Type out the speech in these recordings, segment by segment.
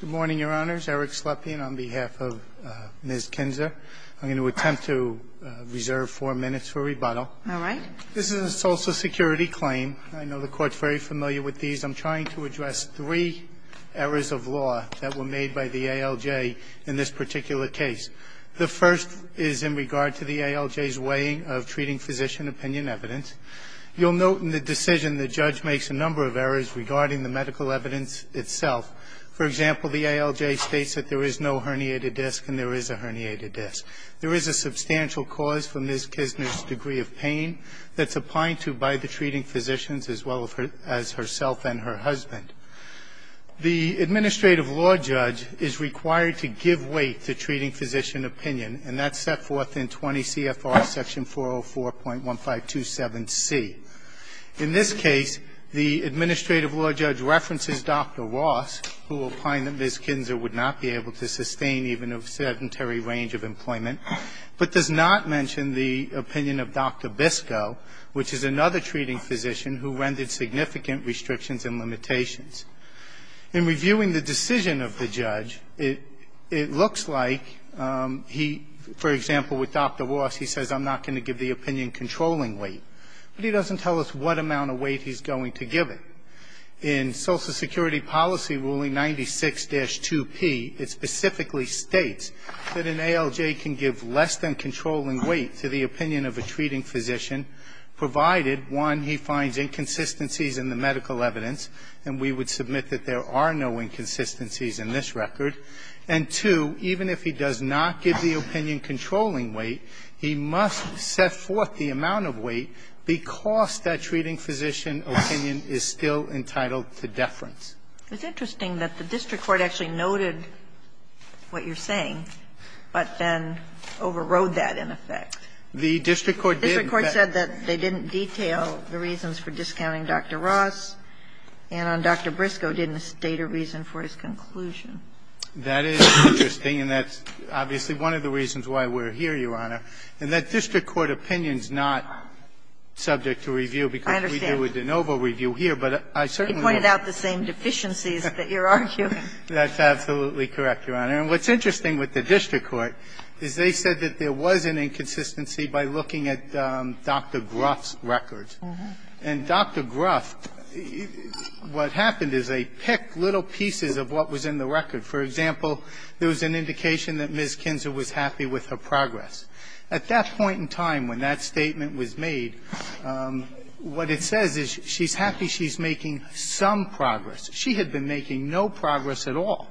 Good morning, Your Honors. Eric Slepian on behalf of Ms. Kinzer. I'm going to attempt to reserve four minutes for rebuttal. All right. This is a Social Security claim. I know the Court's very familiar with these. I'm trying to address three errors of law that were made by the ALJ in this particular case. The first is in regard to the ALJ's way of treating physician opinion evidence. You'll note in the decision the judge makes a number of errors regarding the medical evidence itself. For example, the ALJ states that there is no herniated disc and there is a herniated disc. There is a substantial cause for Ms. Kinzer's degree of pain that's applied to by the treating physicians as well as herself and her husband. The administrative law judge is required to give weight to treating physician opinion, and that's set forth in 20 CFR section 404.1527C. In this case, the administrative law judge references Dr. Ross, who opined that Ms. Kinzer would not be able to sustain even a sedentary range of employment, but does not mention the opinion of Dr. Biscoe, which is another treating physician who rendered significant restrictions and limitations. In reviewing the decision of the judge, it looks like he, for example, with Dr. Ross, he says, I'm not going to give the opinion controlling weight, but he doesn't tell us what amount of weight he's going to give it. In Social Security Policy Ruling 96-2P, it specifically states that an ALJ can give less than controlling weight to the opinion of a treating physician, provided, one, he finds inconsistencies in the medical evidence, and we would submit that there are no inconsistencies in this record, and, two, even if he does not give the opinion controlling weight, he must set forth the amount of weight because that treating physician opinion is still entitled to deference. It's interesting that the district court actually noted what you're saying, but then overrode that in effect. The district court did. The district court said that they didn't detail the reasons for discounting Dr. Ross, and on Dr. Biscoe didn't state a reason for his conclusion. That is interesting, and that's obviously one of the reasons why we're here, Your Honor. And that district court opinion is not subject to review because we do a de novo review here, but I certainly don't. It pointed out the same deficiencies that you're arguing. That's absolutely correct, Your Honor. And what's interesting with the district court is they said that there was an inconsistency by looking at Dr. Gruff's records. And Dr. Gruff, what happened is they picked little pieces of what was in the record For example, there was an indication that Ms. Kinzer was happy with her progress. At that point in time when that statement was made, what it says is she's happy she's making some progress. She had been making no progress at all.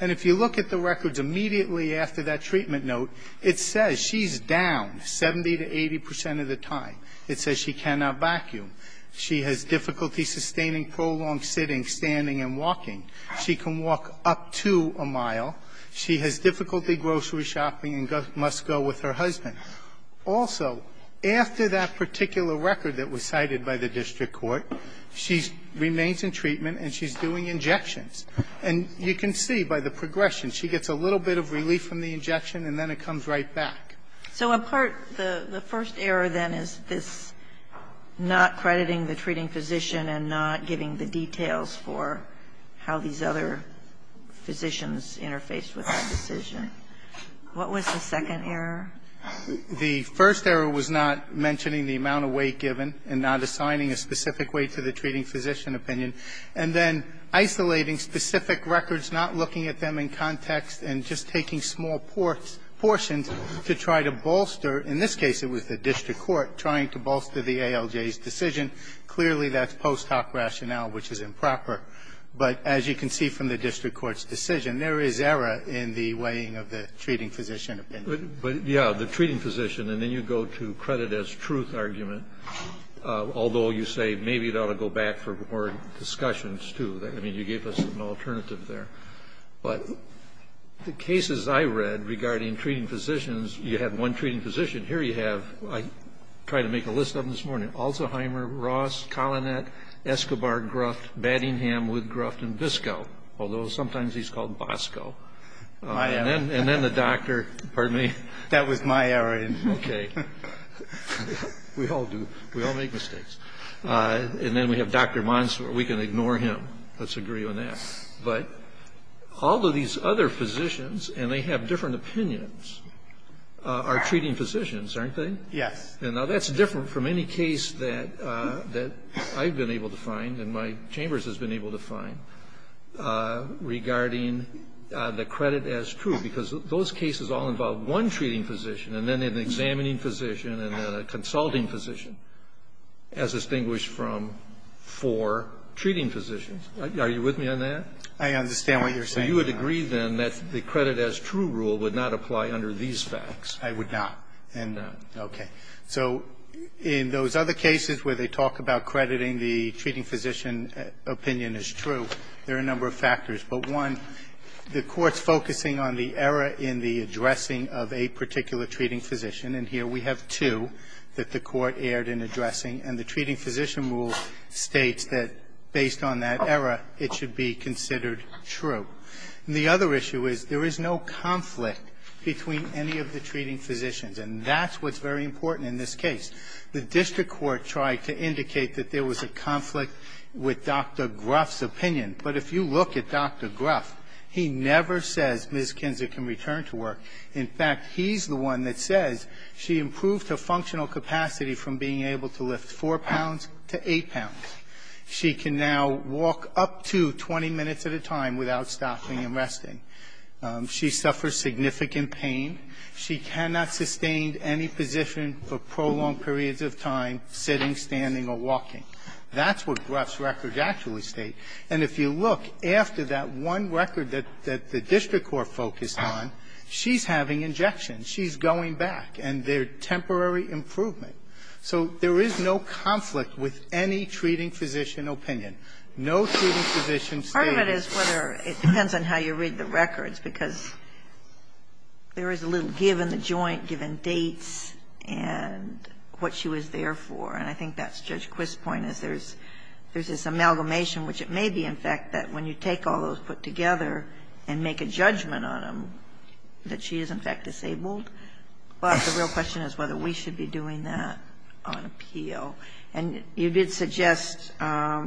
And if you look at the records immediately after that treatment note, it says she's down 70 to 80 percent of the time. It says she cannot vacuum. She has difficulty sustaining prolonged sitting, standing, and walking. She can walk up to a mile. She has difficulty grocery shopping and must go with her husband. Also, after that particular record that was cited by the district court, she remains in treatment and she's doing injections. And you can see by the progression, she gets a little bit of relief from the injection and then it comes right back. So a part of the first error, then, is this not crediting the treating physician and not giving the details for how these other physicians interfaced with the decision. What was the second error? The first error was not mentioning the amount of weight given and not assigning a specific weight to the treating physician opinion, and then isolating specific records, not looking at them in context, and just taking small portions to try to bolster In this case, it was the district court trying to bolster the ALJ's decision. Clearly, that's post hoc rationale, which is improper. But as you can see from the district court's decision, there is error in the weighing of the treating physician opinion. Kennedy, but, yeah, the treating physician, and then you go to credit as truth argument, although you say maybe it ought to go back for more discussions, too. I mean, you gave us an alternative there. But the cases I read regarding treating physicians, you had one treating physician. Here you have, I tried to make a list of them this morning, Alzheimer, Ross, Collinette, Escobar, Gruft, Battingham, Woodgruff, and Biscoe, although sometimes he's called Boscoe, and then the doctor, pardon me. That was my error. Okay. We all do. We all make mistakes. And then we have Dr. Monsoor. We can ignore him. Let's agree on that. But all of these other physicians, and they have different opinions, are treating physicians, aren't they? Yes. Now, that's different from any case that I've been able to find and my chambers has been able to find regarding the credit as true, because those cases all involve one treating physician and then an examining physician and then a consulting physician, as distinguished from four treating physicians. Are you with me on that? I understand what you're saying. So you would agree, then, that the credit as true rule would not apply under these facts? I would not. Okay. So in those other cases where they talk about crediting the treating physician opinion as true, there are a number of factors. But one, the Court's focusing on the error in the addressing of a particular treating physician, and here we have two that the Court erred in addressing. And the treating physician rule states that based on that error, it should be considered true. And the other issue is there is no conflict between any of the treating physicians, and that's what's very important in this case. The district court tried to indicate that there was a conflict with Dr. Gruff's opinion, but if you look at Dr. Gruff, he never says Ms. Kinzer can return to work. In fact, he's the one that says she improved her functional capacity from being able to lift four pounds to eight pounds. She can now walk up to 20 minutes at a time without stopping and resting. She suffers significant pain. She cannot sustain any position for prolonged periods of time, sitting, standing, or walking. That's what Gruff's records actually state. And if you look after that one record that the district court focused on, she's having injections. She's going back, and they're temporary improvement. So there is no conflict with any treating physician opinion. No treating physician states that she's disabled. Ginsburg-Carr, however, it depends on how you read the records, because there is a little give in the joint, given dates, and what she was there for. And I think that's Judge Quist's point, is there's this amalgamation, which it may be, in fact, that when you take all those put together and make a judgment on them, that she is, in fact, disabled. But the real question is whether we should be doing that on appeal. And you did suggest, I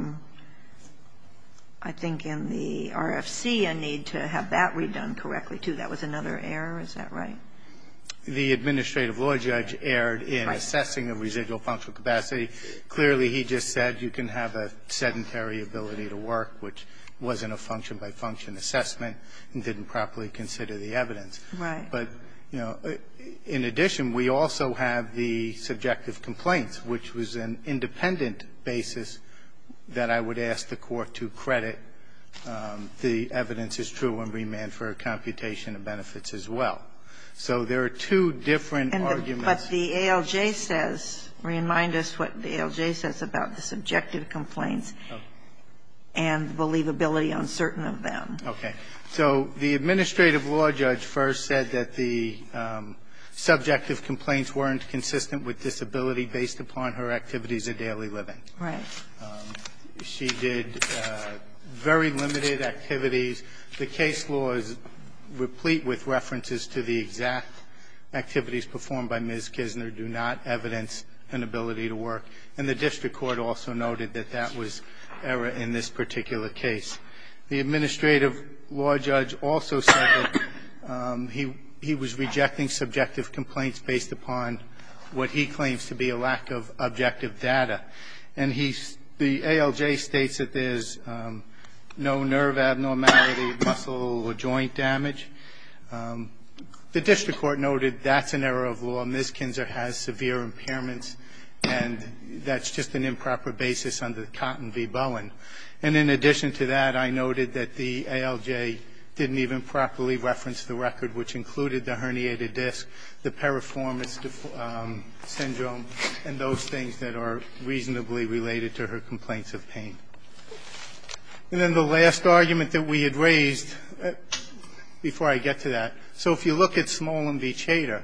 think, in the RFC a need to have that redone correctly, too. That was another error. Is that right? The administrative law judge erred in assessing the residual functional capacity. Clearly, he just said you can have a sedentary ability to work, which wasn't a function-by-function assessment and didn't properly consider the evidence. Right. But, you know, in addition, we also have the subjective complaints, which was an independent basis that I would ask the Court to credit the evidence as true and remand for a computation of benefits as well. So there are two different arguments. But the ALJ says, remind us what the ALJ says about the subjective complaints and believability on certain of them. Okay. So the administrative law judge first said that the subjective complaints weren't consistent with disability based upon her activities of daily living. Right. She did very limited activities. The case law is replete with references to the exact activities performed by Ms. Kisner do not evidence an ability to work. And the district court also noted that that was error in this particular case. The administrative law judge also said that he was rejecting subjective complaints based upon what he claims to be a lack of objective data. And the ALJ states that there's no nerve abnormality, muscle, or joint damage. The district court noted that's an error of law. Ms. Kisner has severe impairments, and that's just an improper basis under Cotton v. Bowen. And in addition to that, I noted that the ALJ didn't even properly reference the record, which included the herniated disc, the periformis syndrome, and those things that are reasonably related to her complaints of pain. And then the last argument that we had raised, before I get to that. So if you look at Small v. Chater,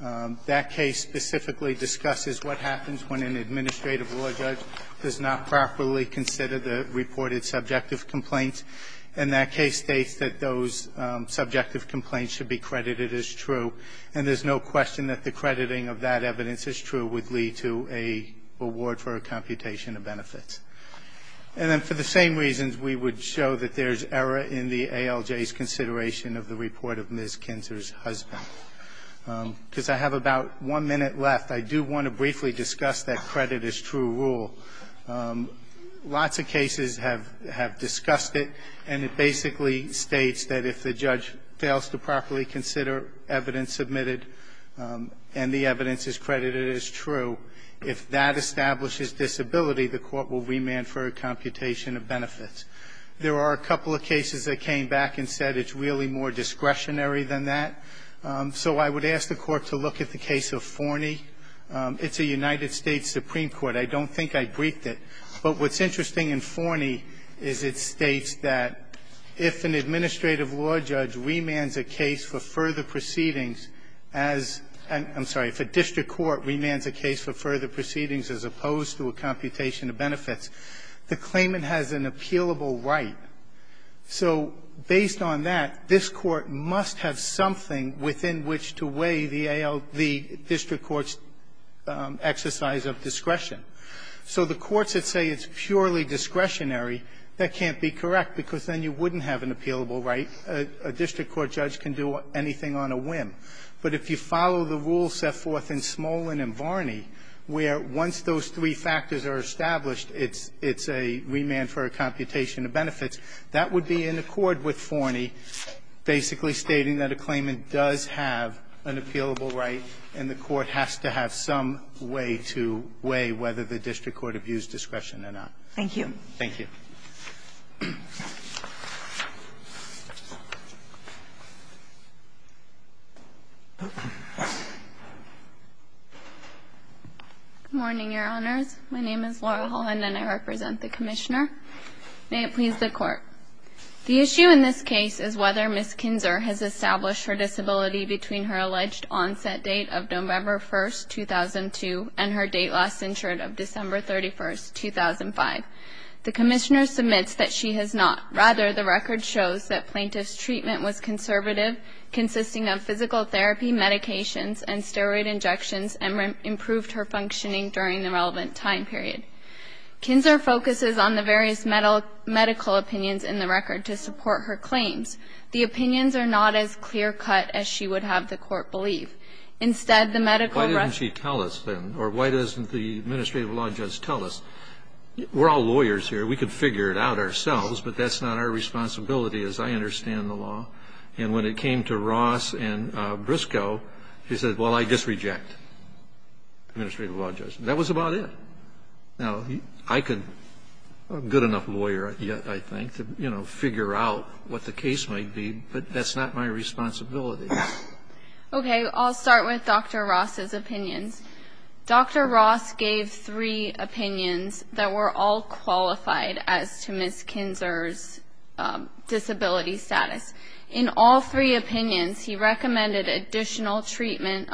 that case specifically discusses what happens when an administrative law judge does not properly consider the reported subjective complaints, and that case states that those subjective complaints should be credited as true, and there's no question that the crediting of that evidence as true would lead to a award for a computation of benefits. And then for the same reasons, we would show that there's error in the ALJ's consideration of the report of Ms. Kisner's husband. Because I have about one minute left. I do want to briefly discuss that credit as true rule. Lots of cases have discussed it, and it basically states that if the judge fails to properly consider evidence submitted, and the evidence is credited as true, if that establishes disability, the court will remand for a computation of benefits. There are a couple of cases that came back and said it's really more discretionary than that. So I would ask the Court to look at the case of Forney. It's a United States Supreme Court. I don't think I briefed it. But what's interesting in Forney is it states that if an administrative law judge remands a case for further proceedings as — I'm sorry, if a district court remands a case for further proceedings as opposed to a computation of benefits, the claimant has an appealable right. So based on that, this Court must have something within which to weigh the AL — the district court's exercise of discretion. So the courts that say it's purely discretionary, that can't be correct, because then you wouldn't have an appealable right. A district court judge can do anything on a whim. But if you follow the rules set forth in Smolin and Varney, where once those three factors are established, it's a remand for a computation of benefits, that would be in accord with Forney, basically stating that a claimant does have an appealable right, and the Court has to have some way to weigh whether the district court abused discretion or not. Thank you. Thank you. Good morning, Your Honors. My name is Laura Holland, and I represent the Commissioner. May it please the Court. The issue in this case is whether Ms. Kinzer has established her disability between her alleged onset date of November 1, 2002, and her date last insured of December 31, 2005. The Commissioner submits that she has not. Rather, the record shows that plaintiff's treatment was conservative, consisting of physical therapy, medications, and steroid injections, and improved her functioning during the relevant time period. Kinzer focuses on the various medical opinions in the record to support her claims. The opinions are not as clear-cut as she would have the Court believe. Instead, the medical record- Why doesn't she tell us, then? Or why doesn't the administrative law judge tell us? We're all lawyers here. We could figure it out ourselves, but that's not our responsibility, as I understand the law. And when it came to Ross and Briscoe, she said, well, I disreject. Administrative law judge. That was about it. Now, I could be a good enough lawyer, I think, to, you know, figure out what the case might be, but that's not my responsibility. Okay. I'll start with Dr. Ross's opinions. Dr. Ross gave three opinions that were all qualified as to Ms. Kinzer's disability status. In all three opinions, he recommended additional treatment,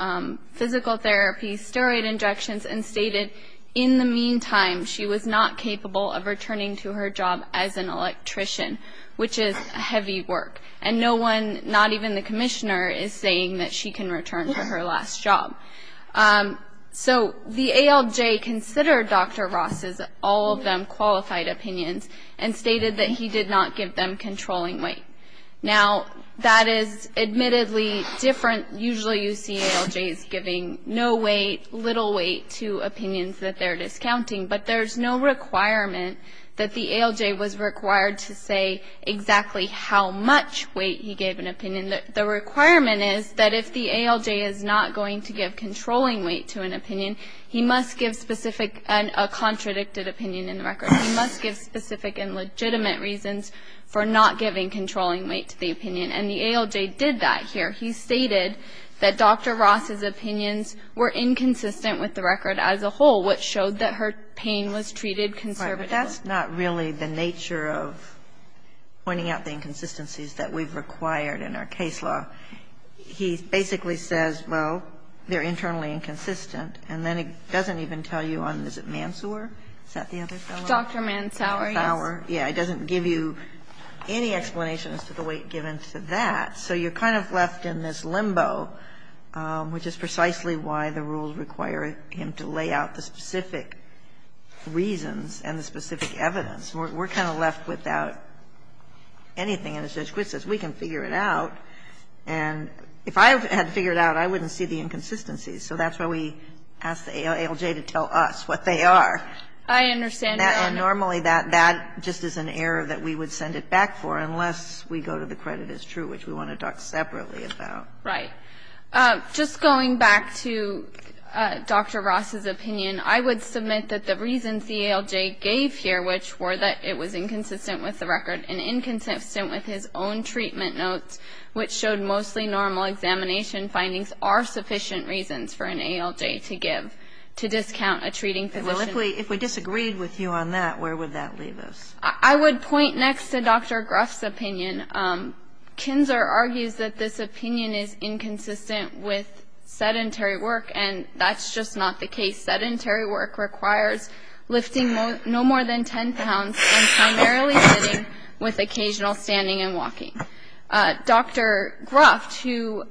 physical therapy, steroid injections, and stated, in the meantime, she was not capable of returning to her job as an electrician, which is heavy work, and no one, not even the commissioner, is saying that she can return to her last job. So the ALJ considered Dr. Ross's, all of them, qualified opinions and stated that he did not give them controlling weight. Now, that is admittedly different. Usually, you see ALJs giving no weight, little weight to opinions that they're discounting, but there's no requirement that the ALJ was required to say exactly how much weight he gave an opinion. The requirement is that if the ALJ is not going to give controlling weight to an opinion, he must give specific and a contradicted opinion in the record. He must give specific and legitimate reasons for not giving controlling weight to the opinion. And the ALJ did that here. He stated that Dr. Ross's opinions were inconsistent with the record as a whole, which showed that her pain was treated conservatively. But that's not really the nature of pointing out the inconsistencies that we've required in our case law. He basically says, well, they're internally inconsistent, and then he doesn't even tell you on visit Mansour. Is that the other fellow? Dr. Mansour, yes. Mansour, yeah. He doesn't give you any explanation as to the weight given to that. So you're kind of left in this limbo, which is precisely why the rules require him to lay out the specific reasons and the specific evidence. We're kind of left without anything. And as Judge Quitt says, we can figure it out. And if I had to figure it out, I wouldn't see the inconsistencies. So that's why we asked the ALJ to tell us what they are. I understand. And normally that just is an error that we would send it back for, unless we go to the credit as true, which we want to talk separately about. Right. Just going back to Dr. Ross's opinion, I would submit that the reasons the ALJ gave here, which were that it was inconsistent with the record and inconsistent with his own treatment notes, which showed mostly normal examination findings, are sufficient reasons for an ALJ to give to discount a treating physician. Well, if we disagreed with you on that, where would that leave us? I would point next to Dr. Gruff's opinion. Kinzer argues that this opinion is inconsistent with sedentary work, and that's just not the case. Sedentary work requires lifting no more than 10 pounds and primarily sitting with occasional standing and walking. Dr. Gruff, who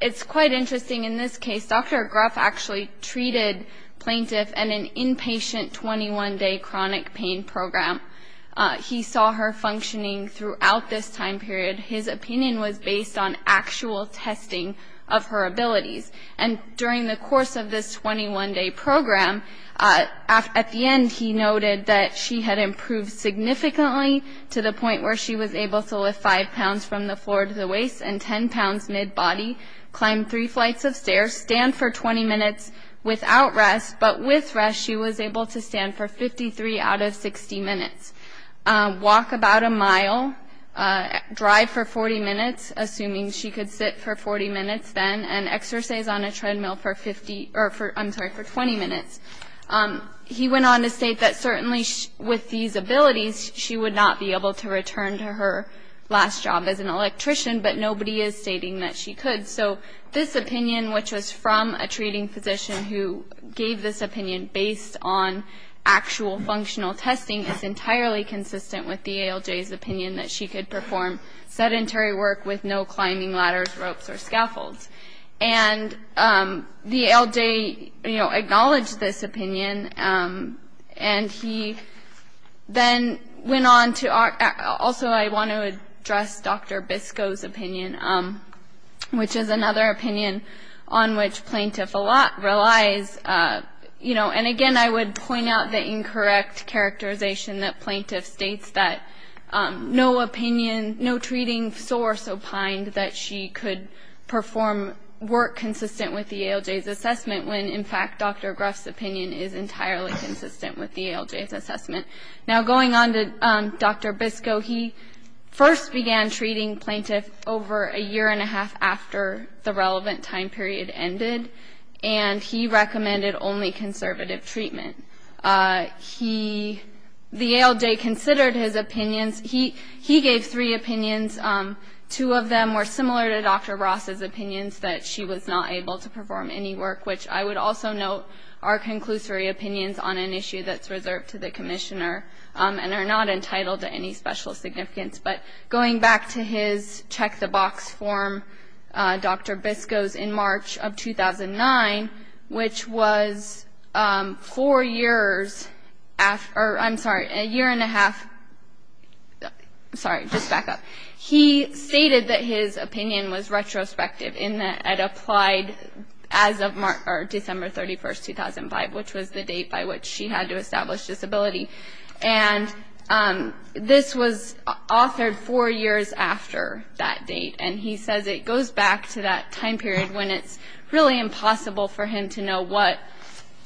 it's quite interesting in this case, Dr. Gruff actually treated plaintiff in an inpatient 21-day chronic pain program. He saw her functioning throughout this time period. His opinion was based on actual testing of her abilities. And during the course of this 21-day program, at the end, he noted that she had improved significantly to the point where she was able to lift five pounds from the floor to the waist and 10 pounds mid-body, climb three flights of stairs, stand for 20 minutes without rest. But with rest, she was able to stand for 53 out of 60 minutes, walk about a mile, drive for 40 minutes, assuming she could sit for 40 minutes then, and exercise on a treadmill for 50 or for, I'm sorry, for 20 minutes. He went on to state that certainly with these abilities, she would not be able to return to her last job as an electrician, but nobody is stating that she could. So this opinion, which was from a treating physician who gave this opinion based on actual functional testing, is entirely consistent with the ALJ's opinion that she could perform sedentary work with no climbing ladders, ropes or scaffolds. And the ALJ, you know, acknowledged this opinion. And he then went on to also, I want to address Dr. Biscoe's opinion, which is another opinion on which plaintiff a lot relies, you know, and again, I would point out the incorrect characterization that plaintiff states that no opinion, no treating source opined that she could perform work consistent with the ALJ's assessment when, in fact, Dr. Gruff's opinion is entirely consistent with the ALJ's assessment. Now, going on to Dr. Biscoe, he first began treating plaintiff over a year and a half after the relevant time period ended, and he recommended only conservative treatment. He, the ALJ considered his opinions. He, he gave three opinions. Two of them were similar to Dr. Ross's opinions that she was not able to perform any work, which I would also note are conclusory opinions on an issue that's reserved to the commissioner and are not entitled to any special significance. But going back to his check the box form, Dr. Biscoe's in March of 2009, which was four years after, I'm sorry, a year and a half. Sorry, just back up. He stated that his opinion was retrospective in that it applied as of March or December 31st, 2005, which was the date by which she had to establish disability. And this was authored four years after that date. And he says it goes back to that time period when it's really impossible for him to know what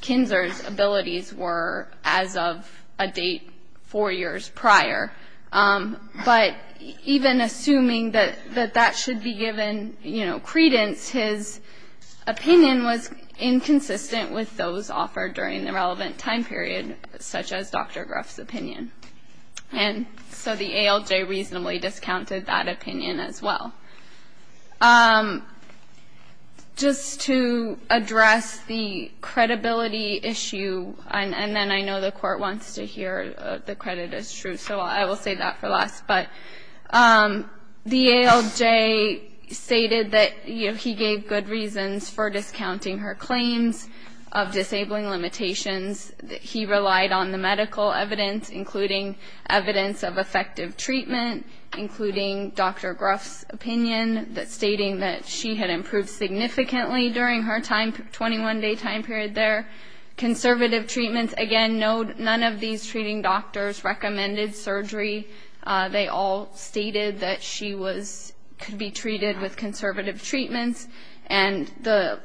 Kinzer's abilities were as of a date four years prior. But even assuming that that should be given, you know, credence, his opinion was in a relevant time period, such as Dr. Gruff's opinion. And so the ALJ reasonably discounted that opinion as well. Just to address the credibility issue, and then I know the court wants to hear the credit is true, so I will say that for last, but the ALJ stated that, you know, he gave good reasons for discounting her claims of disabling limitations. He relied on the medical evidence, including evidence of effective treatment, including Dr. Gruff's opinion, stating that she had improved significantly during her time, 21 day time period there. Conservative treatments. Again, none of these treating doctors recommended surgery. They all stated that she could be treated with conservative treatments. And the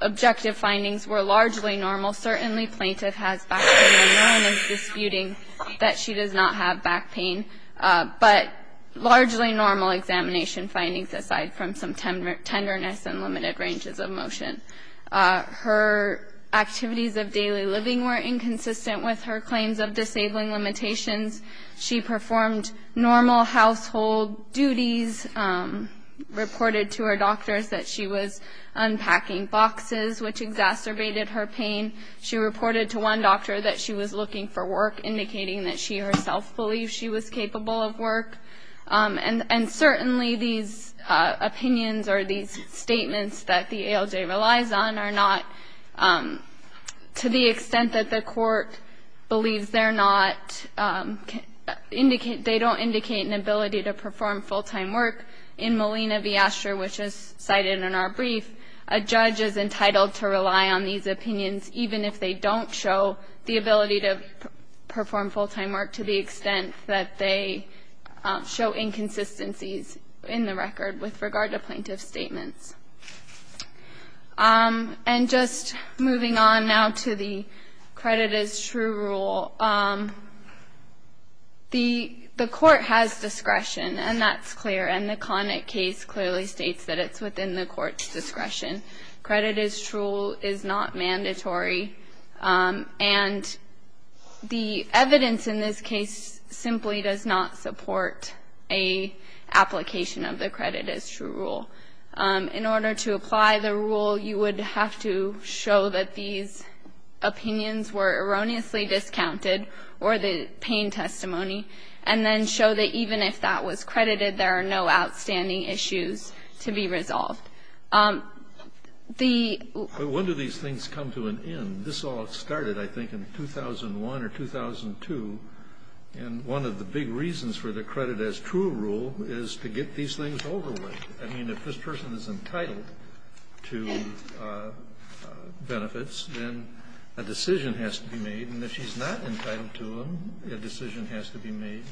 objective findings were largely normal. Certainly, plaintiff has back pain and none is disputing that she does not have back pain, but largely normal examination findings aside from some tenderness and limited ranges of motion. Her activities of daily living were inconsistent with her claims of disabling limitations. She performed normal household duties, reported to her doctors that she was unpacking boxes, which exacerbated her pain. She reported to one doctor that she was looking for work, indicating that she herself believed she was capable of work. And certainly these opinions or these statements that the ALJ relies on are not, um, to the extent that the court believes they're not, um, indicate they don't indicate an ability to perform full-time work in Molina v. Asher, which is cited in our brief. A judge is entitled to rely on these opinions, even if they don't show the ability to perform full-time work to the extent that they show inconsistencies in the record with regard to plaintiff statements. Um, and just moving on now to the credit is true rule. Um, the, the court has discretion and that's clear. And the Connick case clearly states that it's within the court's discretion. Credit is true, is not mandatory. Um, and the evidence in this case simply does not support a application of the credit is true rule. Um, in order to apply the rule, you would have to show that these opinions were erroneously discounted or the pain testimony, and then show that even if that was credited, there are no outstanding issues to be resolved. Um, the, When do these things come to an end? This all started, I think, in 2001 or 2002. And one of the big reasons for the credit as true rule is to get these things over with. I mean, if this person is entitled to benefits, then a decision has to be made. And if she's not entitled to them, a decision has to be made.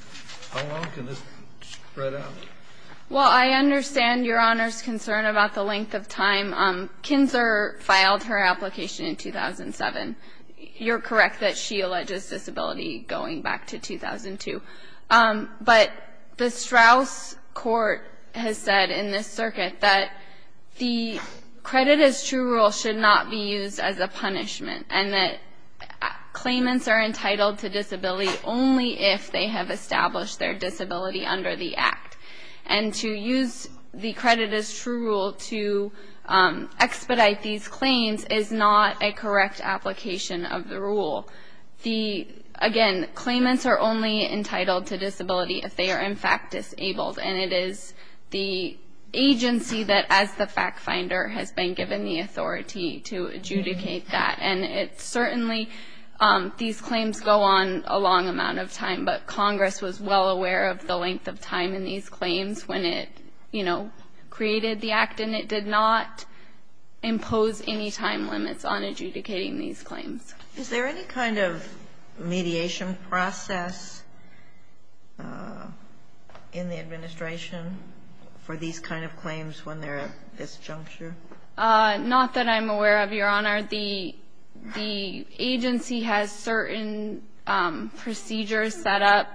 How long can this spread out? Well, I understand Your Honor's concern about the length of time. Um, Kinzer filed her application in 2007. You're correct that she alleges disability going back to 2002. Um, but the Strauss court has said in this circuit that the credit is true rule should not be used as a punishment and that claimants are entitled to disability only if they have established their disability under the act. And to use the credit as true rule to, um, expedite these claims is not a correct application of the rule. The, again, claimants are only entitled to disability if they are in fact disabled. And it is the agency that as the fact finder has been given the authority to adjudicate that. And it's certainly, um, these claims go on a long amount of time, but Congress was well aware of the length of time in these claims when it, you know, created the act and it did not impose any time limits on adjudicating these claims. Is there any kind of mediation process, uh, in the administration for these kinds of claims when they're at this juncture? Uh, not that I'm aware of, Your Honor. The, the agency has certain, um, procedures set up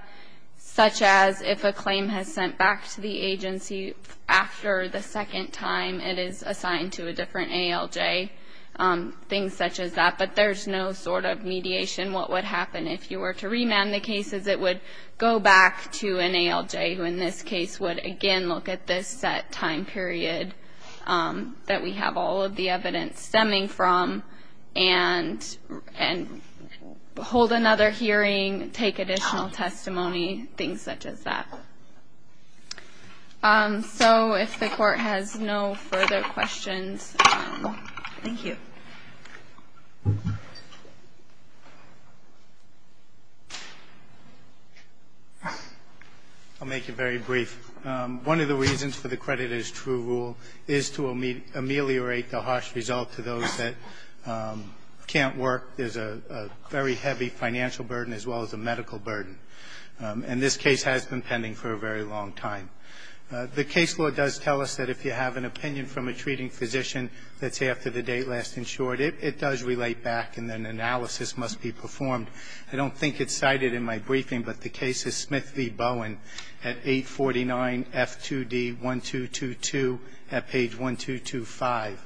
such as if a claim has sent back to the agency after the second time it is assigned to a different ALJ, um, things such as that. But there's no sort of mediation. What would happen if you were to remand the cases? It would go back to an ALJ who in this case would again look at this set time period, um, that we have all of the evidence stemming from and, and hold another hearing, take additional testimony, things such as that. Um, so if the court has no further questions. Thank you. I'll make it very brief. Um, one of the reasons for the creditor's true rule is to ameliorate the harsh result to those that, um, can't work. There's a, a very heavy financial burden as well as a medical burden. Um, and this case has been pending for a very long time. Uh, the case law does tell us that if you have an opinion from a treating physician that's after the date last insured, it, it does relate back and then analysis must be performed. I don't think it's cited in my briefing, but the case is Smith v. Bowen at 849 F2D 1222 at page 1225.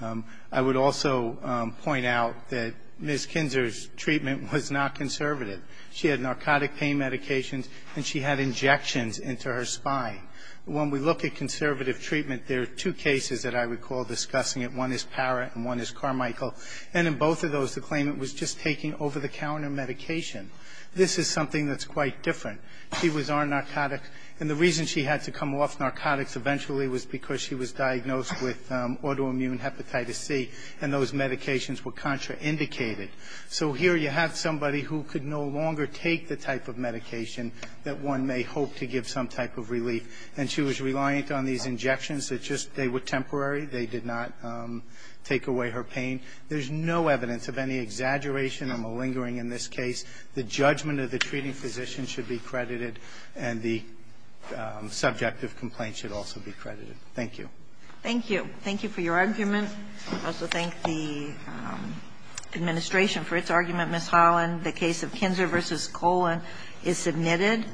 Um, I would also, um, point out that Ms. Kinzer's treatment was not conservative. She had narcotic pain medications and she had injections into her spine. When we look at conservative treatment, there are two cases that I recall. Discussing it. One is Parra and one is Carmichael. And in both of those, the claimant was just taking over the counter medication. This is something that's quite different. She was on narcotics and the reason she had to come off narcotics eventually was because she was diagnosed with, um, autoimmune hepatitis C and those medications were contraindicated. So here you have somebody who could no longer take the type of medication that one may hope to give some type of relief. And she was reliant on these injections that just, they were temporary. They did not, um, take away her pain. There's no evidence of any exaggeration or malingering in this case. The judgment of the treating physician should be credited and the, um, subjective complaint should also be credited. Thank you. Thank you. Thank you for your argument. I also thank the, um, administration for its argument, Ms. Holland. The case of Kinzer v. Colon is submitted.